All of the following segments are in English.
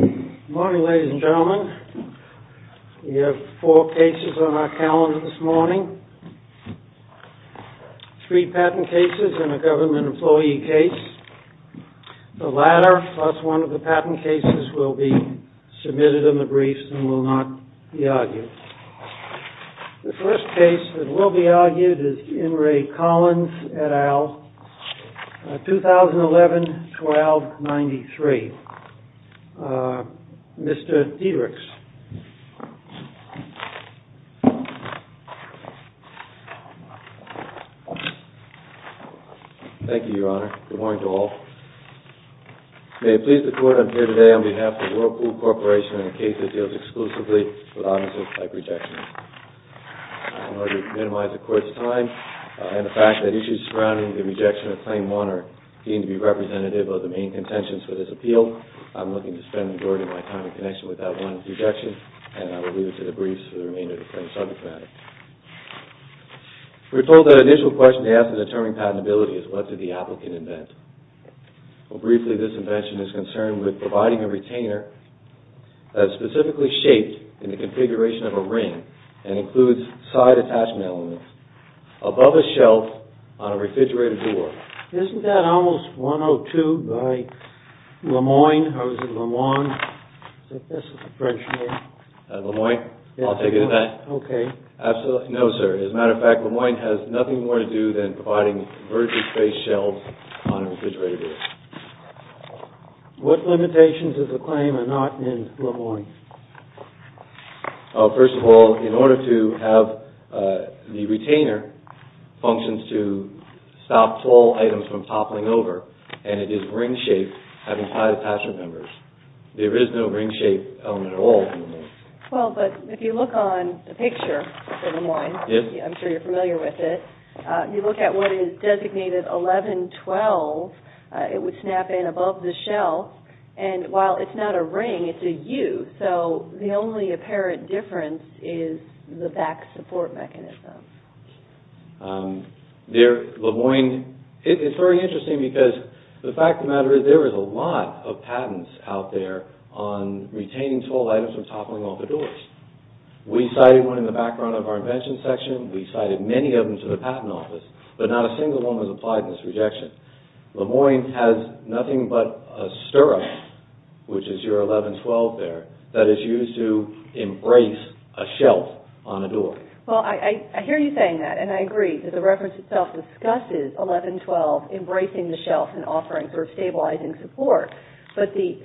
Good morning, ladies and gentlemen. We have four cases on our calendar this morning. Three patent cases and a government employee case. The latter, plus one of the patent cases, will be submitted in the briefs and will not be argued. The first case that will be argued is Enri Collins et al., 2011-12-93. Mr. Dietrichs. MR. DIETRICHS Thank you, Your Honor. Good morning to all. May it please the Court, I'm here today on behalf of Whirlpool Corporation in a case that deals exclusively with objects like rejections. I'm here to minimize the Court's time and the fact that issues surrounding the rejection of Claim 1 are deemed to be representative of the main contentions for this appeal. I'm looking to spend the majority of my time in connection with that one rejection and I will leave it to the briefs for the remainder of the subcommittee. We were told that an initial question to ask in determining patentability is what did the applicant invent? Briefly, this invention is concerned with providing a retainer that is specifically shaped in the configuration of a ring and includes side attachment elements above a shelf on a refrigerator door. Isn't that almost 102 by Lemoyne or was it LeMond? I think this is the French name. LeMoyne? I'll take it as that? Okay. Absolutely. No, sir. As a matter of fact, LeMoyne has nothing more to do than providing vertically spaced shelves on a refrigerator door. What limitations does the claim are not in LeMoyne? First of all, in order to have the retainer functions to stop tall items from toppling over and it is ring-shaped having side attachment numbers. There is no ring-shaped element at all in LeMoyne. Well, but if you look on the picture for LeMoyne, I'm sure you're familiar with it, you look at what is designated 1112, it would snap in above the shelf and while it's not a ring, it's a U. So, the only apparent difference is the back support mechanism. It's very interesting because the fact of the matter is there is a lot of patents out there on retaining tall items from toppling over doors. We cited one in the background of our invention section. We cited many of them to the patent office, but not a single one was applied in this objection. LeMoyne has nothing but a stirrup, which is your 1112 there, that is used to embrace a shelf on a door. Well, I hear you saying that and I agree that the reference itself discusses 1112 embracing the shelf and offering sort of stabilizing support, but the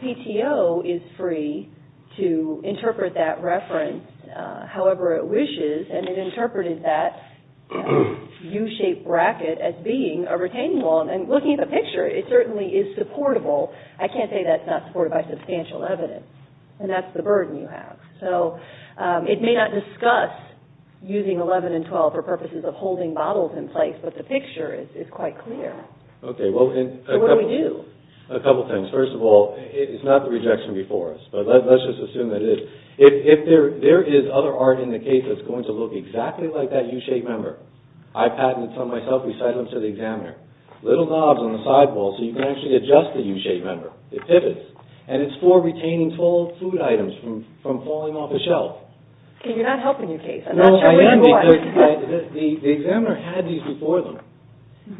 CIO is free to interpret that reference however it wishes and it interpreted that U-shaped bracket as being a retaining wall and looking at the picture, it certainly is supportable. I can't say that's not supported by substantial evidence and that's the burden you have. So, it may not discuss using 11 and 12 for purposes of holding bottles in place, but the picture is quite clear. What do we do? A couple of things. First of all, it's not the rejection before us, but let's just assume that it is. If there is other art in the case that's going to look exactly like that U-shaped member, I patented some myself. We cited them to the examiner. Little knobs on the sidewall so you can actually adjust the U-shaped member. It pivots and it's for retaining tall food items from falling off a shelf. You're not helping your case. I am because the examiner had these before them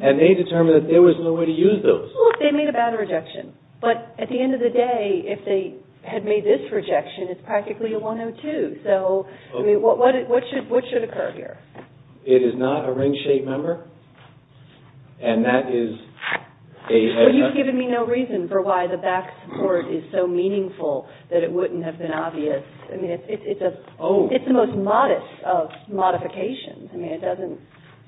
and they determined that there was no way to use those. Well, they made a bad rejection, but at the end of the day, if they had made this rejection, it's practically a 102. So, what should occur here? It is not a ring-shaped member and that is a... I mean, it doesn't...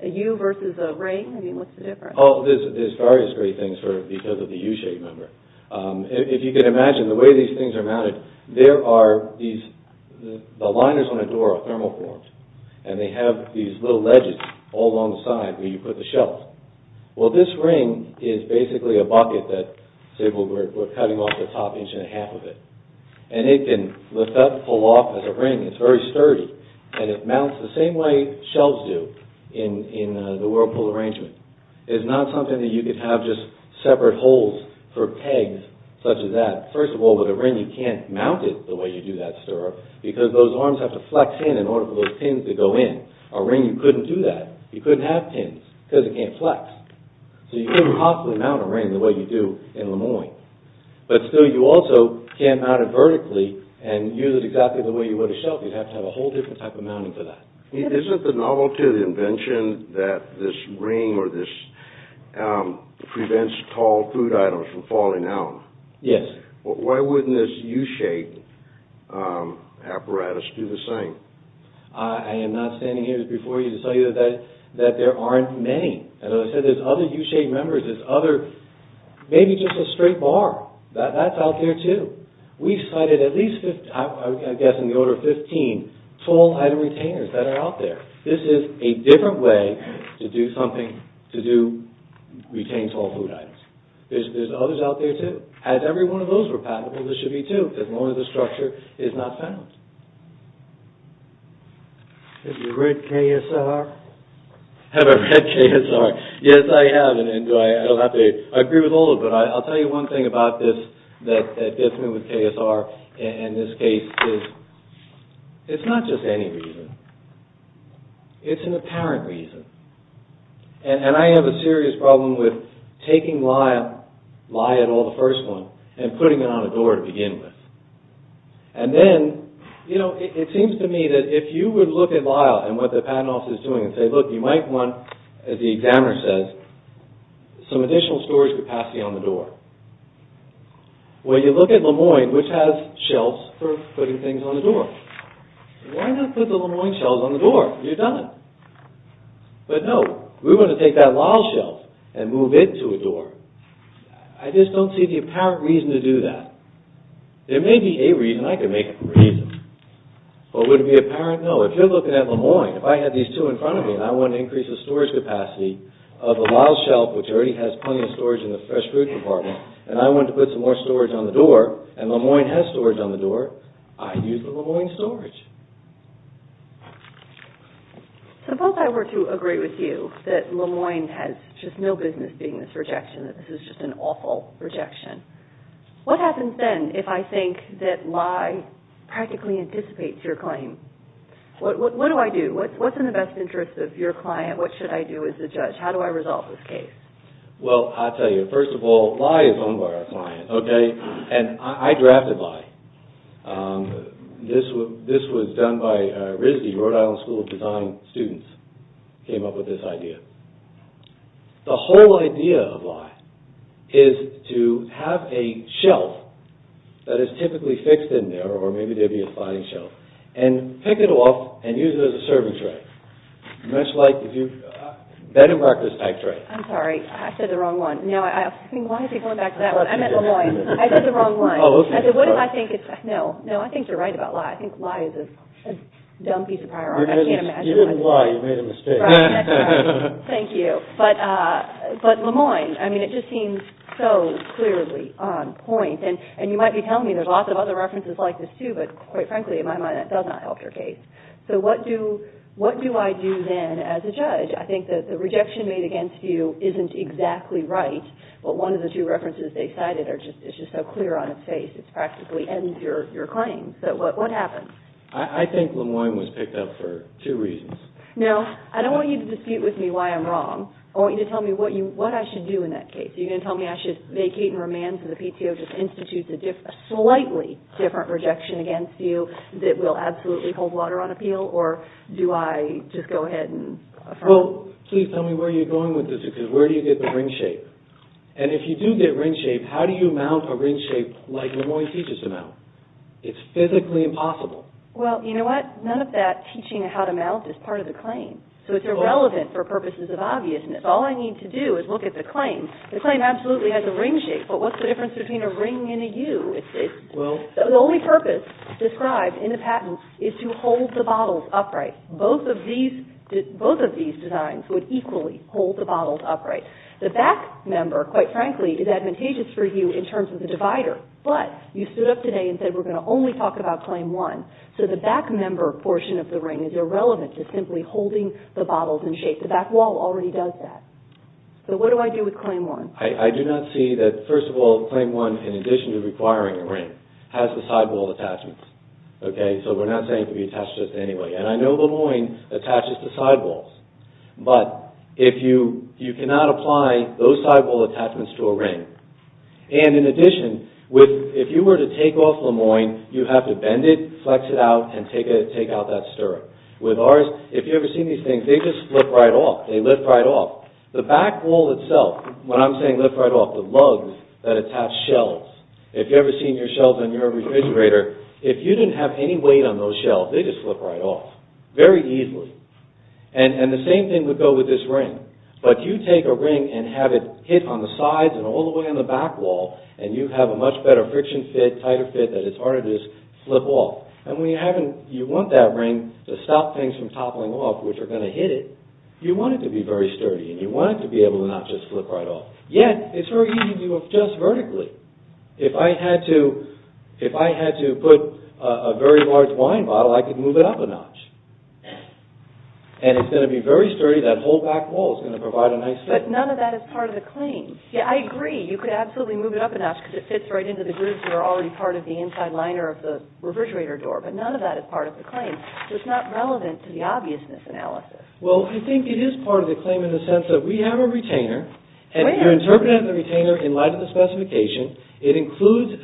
A U versus a ring? I mean, what's the difference? There's various great things because of the U-shaped member. If you can imagine the way these things are mounted, there are these... The liners on the door are thermal-formed and they have these little ledges all along the side where you put the shelves. Well, this ring is basically a bucket that we're cutting off the top inch and a half of it and it can lift up, pull off as a ring. It's very sturdy and it mounts the same way shelves do in the whirlpool arrangement. It's not something that you could have just separate holes for pegs such as that. First of all, with a ring, you can't mount it the way you do that stirrup because those arms have to flex in in order for those pins to go in. A ring, you couldn't do that. You couldn't have pins because it can't flex. So, you couldn't possibly mount a ring the way you do in Lemoyne. But still, you also can't mount it vertically and use it exactly the way you would a shelf. You'd have to have a whole different type of mounting for that. Isn't the novelty of the invention that this ring prevents tall food items from falling down? Yes. Why wouldn't this U-shaped apparatus do the same? I am not standing here before you to tell you that there aren't many. As I said, there are other U-shaped members, maybe just a straight bar. That's out there too. We've cited at least 15 tall item retainers that are out there. This is a different way to do something to retain tall food items. There are others out there too. As every one of those were patentable, there should be two as long as the structure is not found. Have you read KSR? Have I read KSR? Yes, I have. I agree with all of it. I'll tell you one thing about this that gets me with KSR in this case. It's not just any reason. It's an apparent reason. I have a serious problem with taking Lyle, Lyle et al., the first one and putting it on a door to begin with. It seems to me that if you would look at Lyle and what the patent office is doing and say, look, you might want, as the examiner says, some additional storage capacity on the door. Well, you look at Lemoyne, which has shelves for putting things on the door. Why not put the Lemoyne shelves on the door? You've done it. But no, we want to take that Lyle shelf and move it to a door. I just don't see the apparent reason to do that. There may be a reason. I could make up a reason. But would it be apparent? No. If you're looking at Lemoyne, if I had these two in front of me and I wanted to increase the storage capacity of the Lyle shelf, which already has plenty of storage in the fresh fruit department, and I wanted to put some more storage on the door, and Lemoyne has storage on the door, I'd use the Lemoyne storage. Suppose I were to agree with you that Lemoyne has just no business being this rejection, that this is just an awful rejection. What happens then if I think that Lye practically anticipates your claim? What do I do? What's in the best interest of your client? What should I do as a judge? How do I resolve this case? Well, I'll tell you. First of all, Lye is owned by our client, okay? And I drafted Lye. This was done by RISD, Rhode Island School of Design students, came up with this idea. The whole idea of Lye is to have a shelf that is typically fixed in there, or maybe there'd be a sliding shelf, and pick it off and use it as a serving tray. Much like, if you, bed and breakfast type tray. I'm sorry. I said the wrong one. No, I think, why is he going back to that one? I meant Lemoyne. I said the wrong one. Oh, okay. I said, what if I think it's, no, no, I think you're right about Lye. I think Lye is a dumb piece of prior art. I can't imagine why. You didn't lie. You made a mistake. Thank you. But Lemoyne, I mean, it just seems so clearly on point. And you might be telling me there's lots of other references like this, too, but quite frankly, in my mind, that does not help your case. So what do I do then as a judge? I think that the rejection made against you isn't exactly right, but one of the two references they cited is just so clear on its face. It practically ends your claim. So what happens? I think Lemoyne was picked up for two reasons. Now, I don't want you to dispute with me why I'm wrong. I want you to tell me what I should do in that case. Are you going to tell me I should vacate and remand to the PTO just to institute a slightly different rejection against you that will absolutely hold water on appeal? Or do I just go ahead and affirm? Well, please tell me where you're going with this because where do you get the ring shape? And if you do get ring shape, how do you mount a ring shape like Lemoyne teaches to mount? It's physically impossible. Well, you know what? None of that teaching how to mount is part of the claim. So it's irrelevant for purposes of obviousness. All I need to do is look at the claim. The claim absolutely has a ring shape, but what's the difference between a ring and a U? The only purpose described in the patent is to hold the bottles upright. Both of these designs would equally hold the bottles upright. The back member, quite frankly, is advantageous for you in terms of the divider, but you stood up today and said we're going to only talk about Claim 1. So the back member portion of the ring is irrelevant to simply holding the bottles in shape. The back wall already does that. So what do I do with Claim 1? I do not see that, first of all, Claim 1, in addition to requiring a ring, has the sidewall attachments. So we're not saying it can be attached to this anyway. And I know Lemoyne attaches to sidewalls, but you cannot apply those sidewall attachments to a ring. And in addition, if you were to take off Lemoyne, you have to bend it, flex it out, and take out that stirrup. With ours, if you've ever seen these things, they just flip right off. They lift right off. The back wall itself, when I'm saying lift right off, the lugs that attach shelves, if you've ever seen your shelves in your refrigerator, if you didn't have any weight on those shelves, they just flip right off very easily. And the same thing would go with this ring. But you take a ring and have it hit on the sides and all the way on the back wall, and you have a much better friction fit, a tighter fit that it's harder to just flip off. And when you want that ring to stop things from toppling off which are going to hit it, you want it to be very sturdy, and you want it to be able to not just flip right off. Yet, it's very easy to adjust vertically. If I had to put a very large wine bottle, I could move it up a notch. And it's going to be very sturdy. That whole back wall is going to provide a nice fit. But none of that is part of the claim. Yeah, I agree. You could absolutely move it up a notch because it fits right into the grooves that are already part of the inside liner of the refrigerator door. But none of that is part of the claim. So it's not relevant to the obviousness analysis. Well, I think it is part of the claim in the sense that we have a retainer, and you're interpreting the retainer in light of the specification. It includes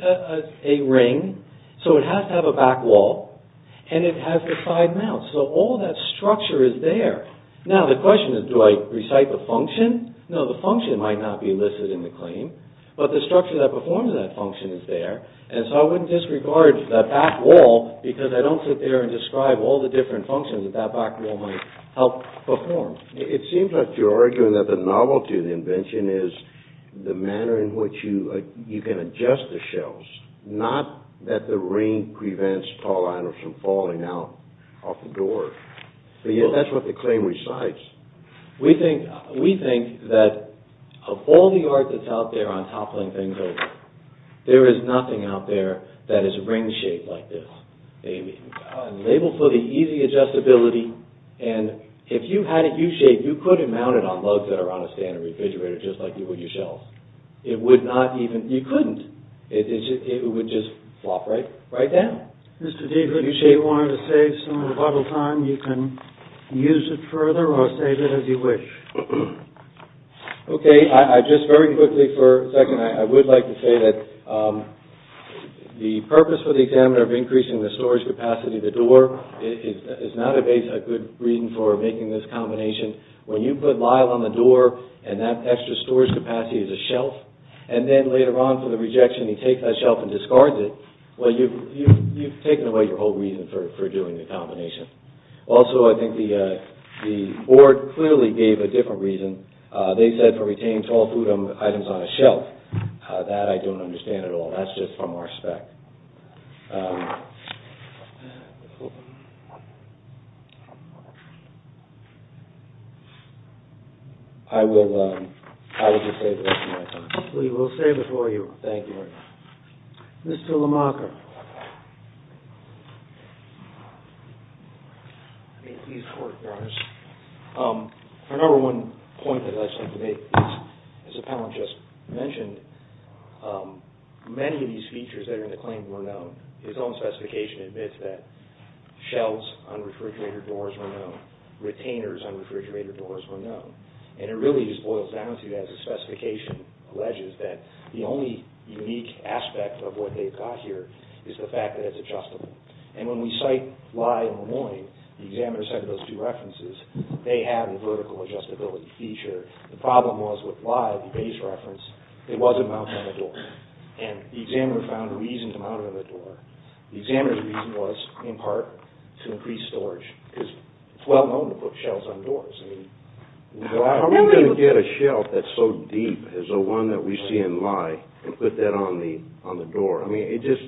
a ring, so it has to have a back wall, and it has the side mounts. So all that structure is there. Now, the question is, do I recite the function? No, the function might not be listed in the claim, but the structure that performs that function is there, and so I wouldn't disregard that back wall because I don't sit there and describe all the different functions that that back wall might help perform. It seems like you're arguing that the novelty of the invention is the manner in which you can adjust the shelves, not that the ring prevents tall liners from falling out of the door. But yet, that's what the claim recites. We think that of all the art that's out there, on toppling things over, there is nothing out there that is ring-shaped like this. Labeled for the easy adjustability, and if you had it U-shaped, you could have mounted it on lugs that are on a stand in a refrigerator, just like you would your shelves. It would not even... You couldn't. It would just flop right down. Mr. D, if you wanted to save some of the bottle time, you can use it further, or save it as you wish. Okay, just very quickly for a second, I would like to say that the purpose for the examiner of increasing the storage capacity of the door is not a good reason for making this combination. When you put Lyle on the door, and that extra storage capacity is a shelf, and then later on for the rejection, he takes that shelf and discards it, well, you've taken away your whole reason for doing the combination. Also, I think the board clearly gave a different reason. They said to retain tall food items on a shelf. That I don't understand at all. That's just from our spec. I will just save this for my time. We will save it for you. Thank you. Mr. LeMaker. May it please the Court, Your Honor. Our number one point that I'd like to make is, as the panel just mentioned, many of these features that are in the claim were known. His own specification admits that shelves on refrigerator doors were known. Retainers on refrigerator doors were known. And it really just boils down to, as the specification alleges, that the only unique aspect of what they've got here is the fact that it's adjustable. And when we cite Lye and Lemoine, the examiners had those two references, they had a vertical adjustability feature. The problem was with Lye, the base reference, it wasn't mounted on the door. And the examiner found a reason to mount it on the door. The examiner's reason was, in part, to increase storage. Because it's well known to put shelves on doors. How are we going to get a shelf that's so deep as the one that we see in Lye and put that on the door? I mean, it just...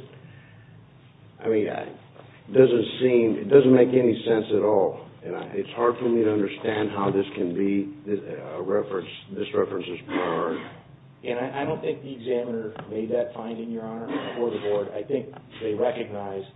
I mean, it doesn't seem, it doesn't make any sense at all. It's hard for me to understand how this can be a reference, this reference is prior. And I don't think the examiner made that finding, Your Honor, before the board. I think they recognized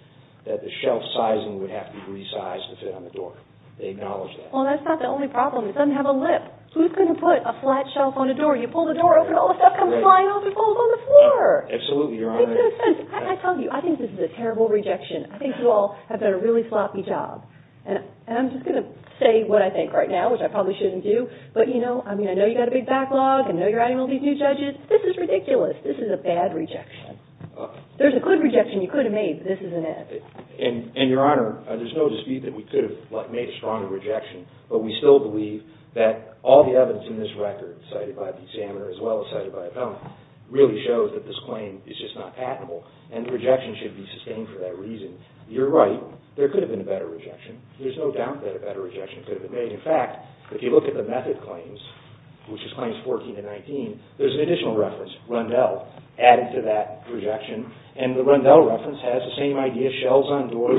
that the shelf sizing would have to be resized to fit on the door. They acknowledged that. Well, that's not the only problem. It doesn't have a lip. Who's going to put a flat shelf on a door? You pull the door open, all the stuff comes flying off, it falls on the floor! Absolutely, Your Honor. It makes no sense. I tell you, I think this is a terrible rejection. I think you all have done a really sloppy job. And I'm just going to say what I think right now, which I probably shouldn't do, but, you know, I mean, I know you've got a big backlog, I know you're adding all these new judges. This is ridiculous. This is a bad rejection. There's a good rejection you could have made, but this isn't it. And, Your Honor, there's no dispute that we could have made a stronger rejection, but we still believe that all the evidence in this record, cited by the examiner as well as cited by appellant, really shows that this claim is just not patentable, and the rejection should be sustained for that reason. You're right. There could have been a better rejection. There's no doubt that a better rejection could have been made. In fact, if you look at the method claims, which is Claims 14 and 19, there's an additional reference, Rundell, added to that rejection, and the Rundell reference has the same idea, shelves on doors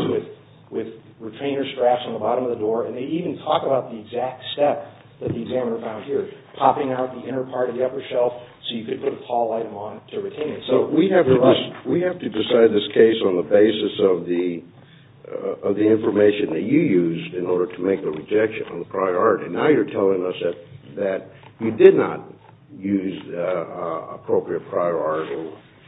with retainer straps on the bottom of the door, and they even talk about the exact step that the examiner found here, popping out the inner part of the upper shelf so you could put a tall item on it to retain it. So we have to decide this case on the basis of the information that you used in order to make a rejection on the prior art, and now you're telling us that you did not use appropriate prior art.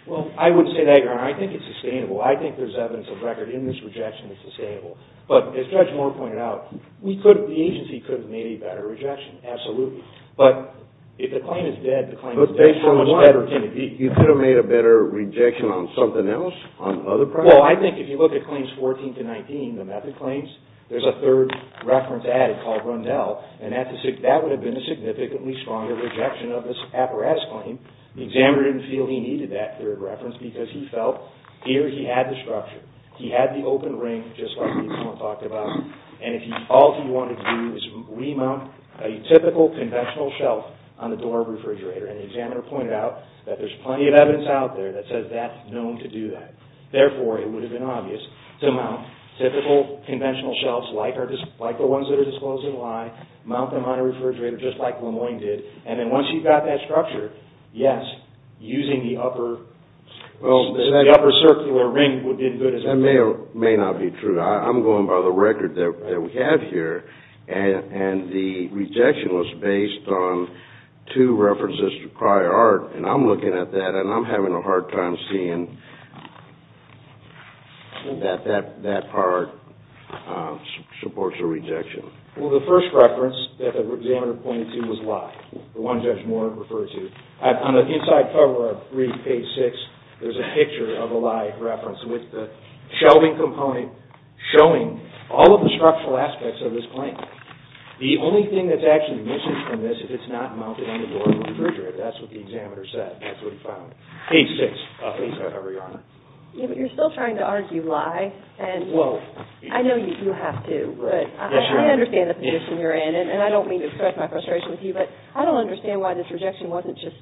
Well, I would say that, Your Honor. I think it's sustainable. I think there's evidence of record in this rejection that's sustainable. But as Judge Moore pointed out, the agency could have made a better rejection, absolutely. But if the claim is dead, the claim is dead. But based on what? You could have made a better rejection on something else, on another prior art? Well, I think if you look at Claims 14 to 19, the method claims, there's a third reference added called Rundell, and that would have been a significantly stronger rejection of this apparatus claim. The examiner didn't feel he needed that third reference because he felt here he had the structure. He had the open ring, just like we talked about, and all he wanted to do is remount a typical conventional shelf on the door of the refrigerator, and the examiner pointed out that there's plenty of evidence out there that says that's known to do that. Therefore, it would have been obvious to mount typical conventional shelves like the ones that are disclosed in the lie, mount them on a refrigerator just like Lemoyne did, and then once you've got that structure, yes, using the upper circular ring would have been good. That may or may not be true. I'm going by the record that we have here, and the rejection was based on two references to prior art, and I'm looking at that, and I'm having a hard time seeing that that part supports a rejection. Well, the first reference that the examiner pointed to was lie, the one Judge Moore referred to. On the inside cover of page 6, there's a picture of a lie reference with the shelving component showing all of the structural aspects of this claim. The only thing that's actually missing from this is it's not mounted on the door of the refrigerator. That's what the examiner said. That's what he found. Page 6, please, Your Honor. But you're still trying to argue lie, and I know you have to, but I understand the position you're in, and I don't mean to express my frustration with you, but I don't understand why this rejection wasn't just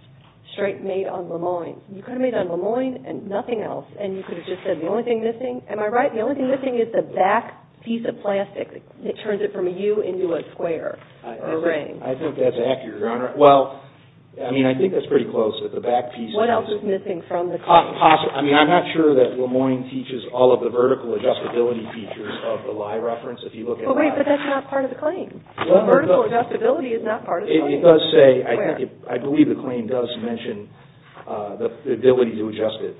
straight made on Lemoyne. You could have made it on Lemoyne and nothing else, and you could have just said the only thing missing. Am I right? The only thing missing is the back piece of plastic that turns it from a U into a square or a ring. I think that's accurate, Your Honor. Well, I mean, I think that's pretty close, that the back piece is. What else is missing from the claim? I mean, I'm not sure that Lemoyne teaches all of the vertical adjustability features of the lie reference if you look at the back. Well, wait, but that's not part of the claim. Vertical adjustability is not part of the claim. It does say, I believe the claim does mention the ability to adjust it.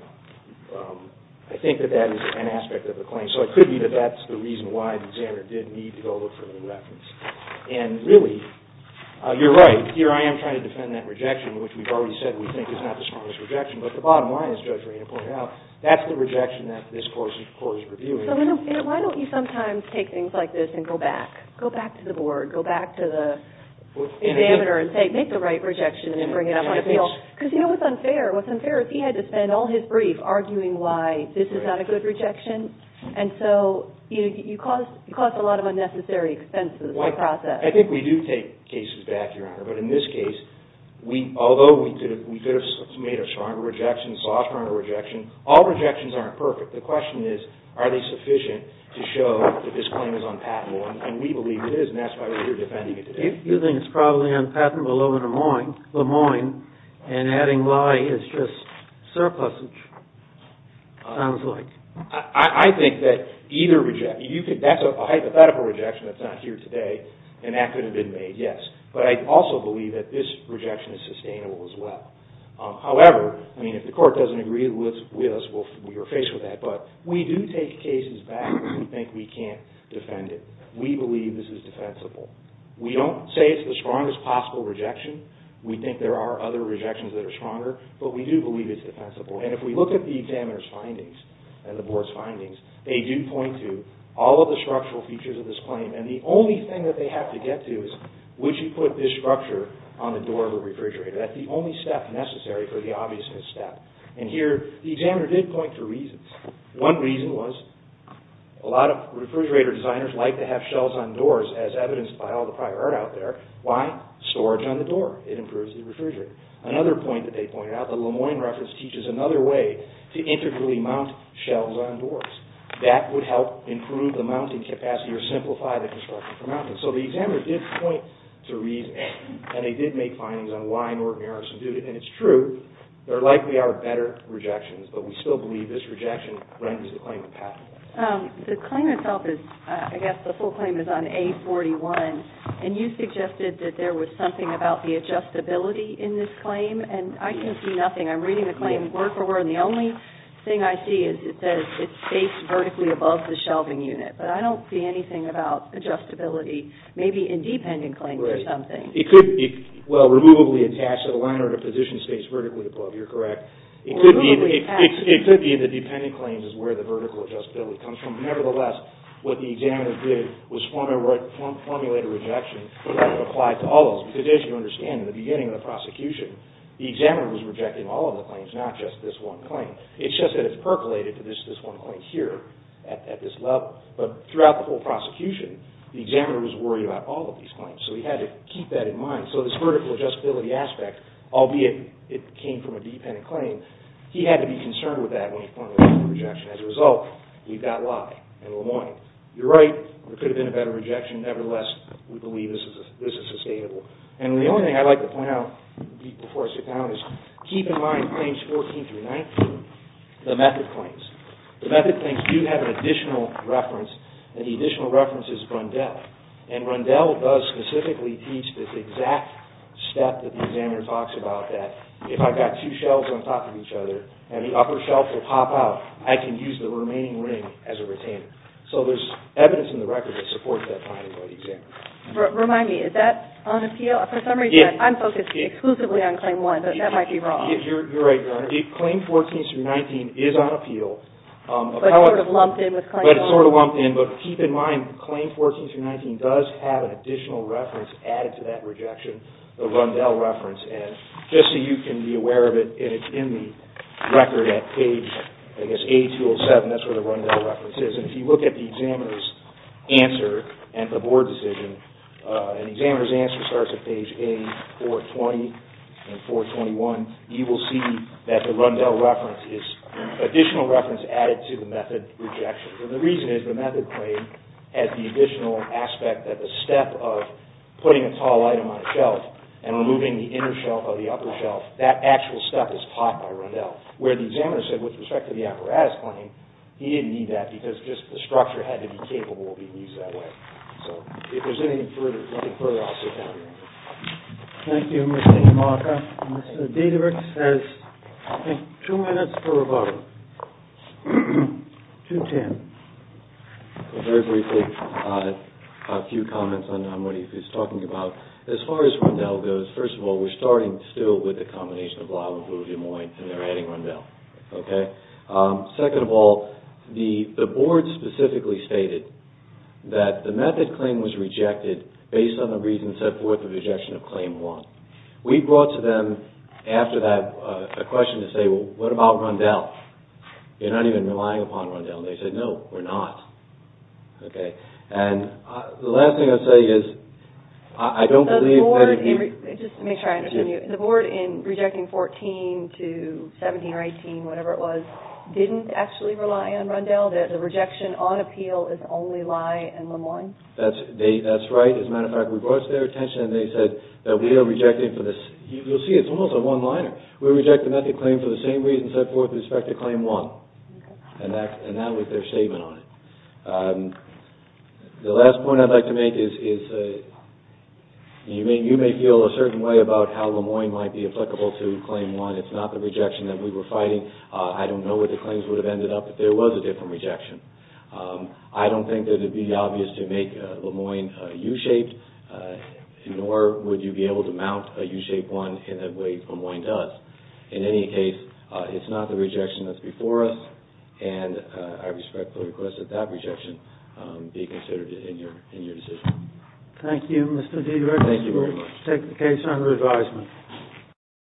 I think that that is an aspect of the claim, so it could be that that's the reason why the examiner did need to go look for the reference. And really, you're right. Here I am trying to defend that rejection, which we've already said we think is not the strongest rejection, but the bottom line, as Judge Rayner pointed out, that's the rejection that this Court is reviewing. So why don't you sometimes take things like this and go back? Go back to the board. Go back to the examiner and say, make the right rejection and bring it up on appeal. Because you know what's unfair? What's unfair is he had to spend all his brief arguing why this is not a good rejection, and so you cause a lot of unnecessary expenses by process. I think we do take cases back, Your Honor, but in this case, although we could have made a stronger rejection, a softer rejection, all rejections aren't perfect. The question is, are they sufficient to show that this claim is unpatentable? And we believe it is, and that's why we're here defending it today. You think it's probably unpatentable in Lemoyne, and adding lie is just surplusage, it sounds like. I think that either rejection, that's a hypothetical rejection that's not here today, and that could have been made, yes. But I also believe that this rejection is sustainable as well. However, I mean, if the Court doesn't agree with us, we are faced with that. But we do take cases back when we think we can't defend it. We believe this is defensible. We don't say it's the strongest possible rejection. We think there are other rejections that are stronger, but we do believe it's defensible. And if we look at the examiner's findings and the Board's findings, they do point to all of the structural features of this claim, and the only thing that they have to get to is, would you put this structure on the door of a refrigerator? That's the only step necessary for the obviousness step. And here, the examiner did point to reasons. One reason was, a lot of refrigerator designers like to have shells on doors, as evidenced by all the prior art out there. Why? Storage on the door. It improves the refrigerator. Another point that they pointed out, the Lemoyne reference teaches another way to integrally mount shells on doors. That would help improve the mounting capacity or simplify the construction for mounting. So the examiner did point to reasons, and they did make findings on why Norton-Harrison did it. And it's true, there likely are better rejections, but we still believe this rejection renders the claim path. The claim itself is, I guess the full claim is on A41, and you suggested that there was something about the adjustability in this claim, and I can see nothing. I'm reading the claim word for word, and the only thing I see is it says it's spaced vertically above the shelving unit. But I don't see anything about adjustability, maybe in dependent claims or something. It could be, well, removably attached to the liner, the position stays vertically above, you're correct. It could be in the dependent claims is where the vertical adjustability comes from. Nevertheless, what the examiner did was formulate a rejection that applied to all of those. Because as you understand, in the beginning of the prosecution, the examiner was rejecting all of the claims, not just this one claim. It's just that it's percolated to this one claim here at this level. But throughout the whole prosecution, the examiner was worried about all of these claims. So he had to keep that in mind. So this vertical adjustability aspect, albeit it came from a dependent claim, he had to be concerned with that when he formulated the rejection. As a result, we've got lye in Lemoyne. You're right, there could have been a better rejection. Nevertheless, we believe this is sustainable. And the only thing I'd like to point out before I sit down is keep in mind claims 14 through 19, the method claims. The method claims do have an additional reference, and the additional reference is Rundell. And Rundell does specifically teach this exact step that the examiner talks about, that if I've got two shelves on top of each other and the upper shelf will pop out, I can use the remaining ring as a retainer. So there's evidence in the record that supports that finding by the examiner. Remind me, is that on appeal? For some reason, I'm focused exclusively on claim one, but that might be wrong. You're right, Your Honor. Claim 14 through 19 is on appeal. But sort of lumped in with claim 11. But it's sort of lumped in. But keep in mind, claim 14 through 19 does have an additional reference added to that rejection, the Rundell reference. And just so you can be aware of it, it's in the record at page, I guess, A-207. That's where the Rundell reference is. And if you look at the examiner's answer and the board decision, the examiner's answer starts at page A-420 and 421. You will see that the Rundell reference is an additional reference added to the method rejection. And the reason is the method claim has the additional aspect that the step of putting a tall item on a shelf and removing the inner shelf of the upper shelf, that actual step is taught by Rundell. Where the examiner said, with respect to the apparatus claim, he didn't need that because just the structure had to be capable of being used that way. So if there's anything further, I'll sit down here. Thank you, Mr. DeMarco. And Mr. Diederich has, I think, two minutes for rebuttal. 210. Very briefly, a few comments on what he was talking about. As far as Rundell goes, first of all, we're starting still with the combination of Lava, Booze, and Wine, and they're adding Rundell. Okay? Second of all, the board specifically stated that the method claim was rejected based on the reasons set forth in Rejection of Claim 1. We brought to them, after that, a question to say, well, what about Rundell? You're not even relying upon Rundell. They said, no, we're not. Okay? And the last thing I'll say is, I don't believe that if you... Just to make sure I understand you, the board in Rejection 14 to 17 or 18, whatever it was, didn't actually rely on Rundell? The rejection on appeal is only Lye and Lemoine? That's right. As a matter of fact, we brought it to their attention, and they said that we are rejecting for this. You'll see, it's almost a one-liner. We're rejecting that claim for the same reasons set forth in Respect to Claim 1. And that was their statement on it. The last point I'd like to make is, you may feel a certain way about how Lemoine might be applicable to Claim 1. It's not the rejection that we were fighting. I don't know what the claims would have ended up if there was a different rejection. I don't think that it would be obvious to make Lemoine U-shaped nor would you be able to mount a U-shaped one in a way Lemoine does. In any case, it's not the rejection that's before us, and I respectfully request that that rejection be considered in your decision. Thank you, Mr. D. Reckless. Thank you very much. We'll take the case under advisement.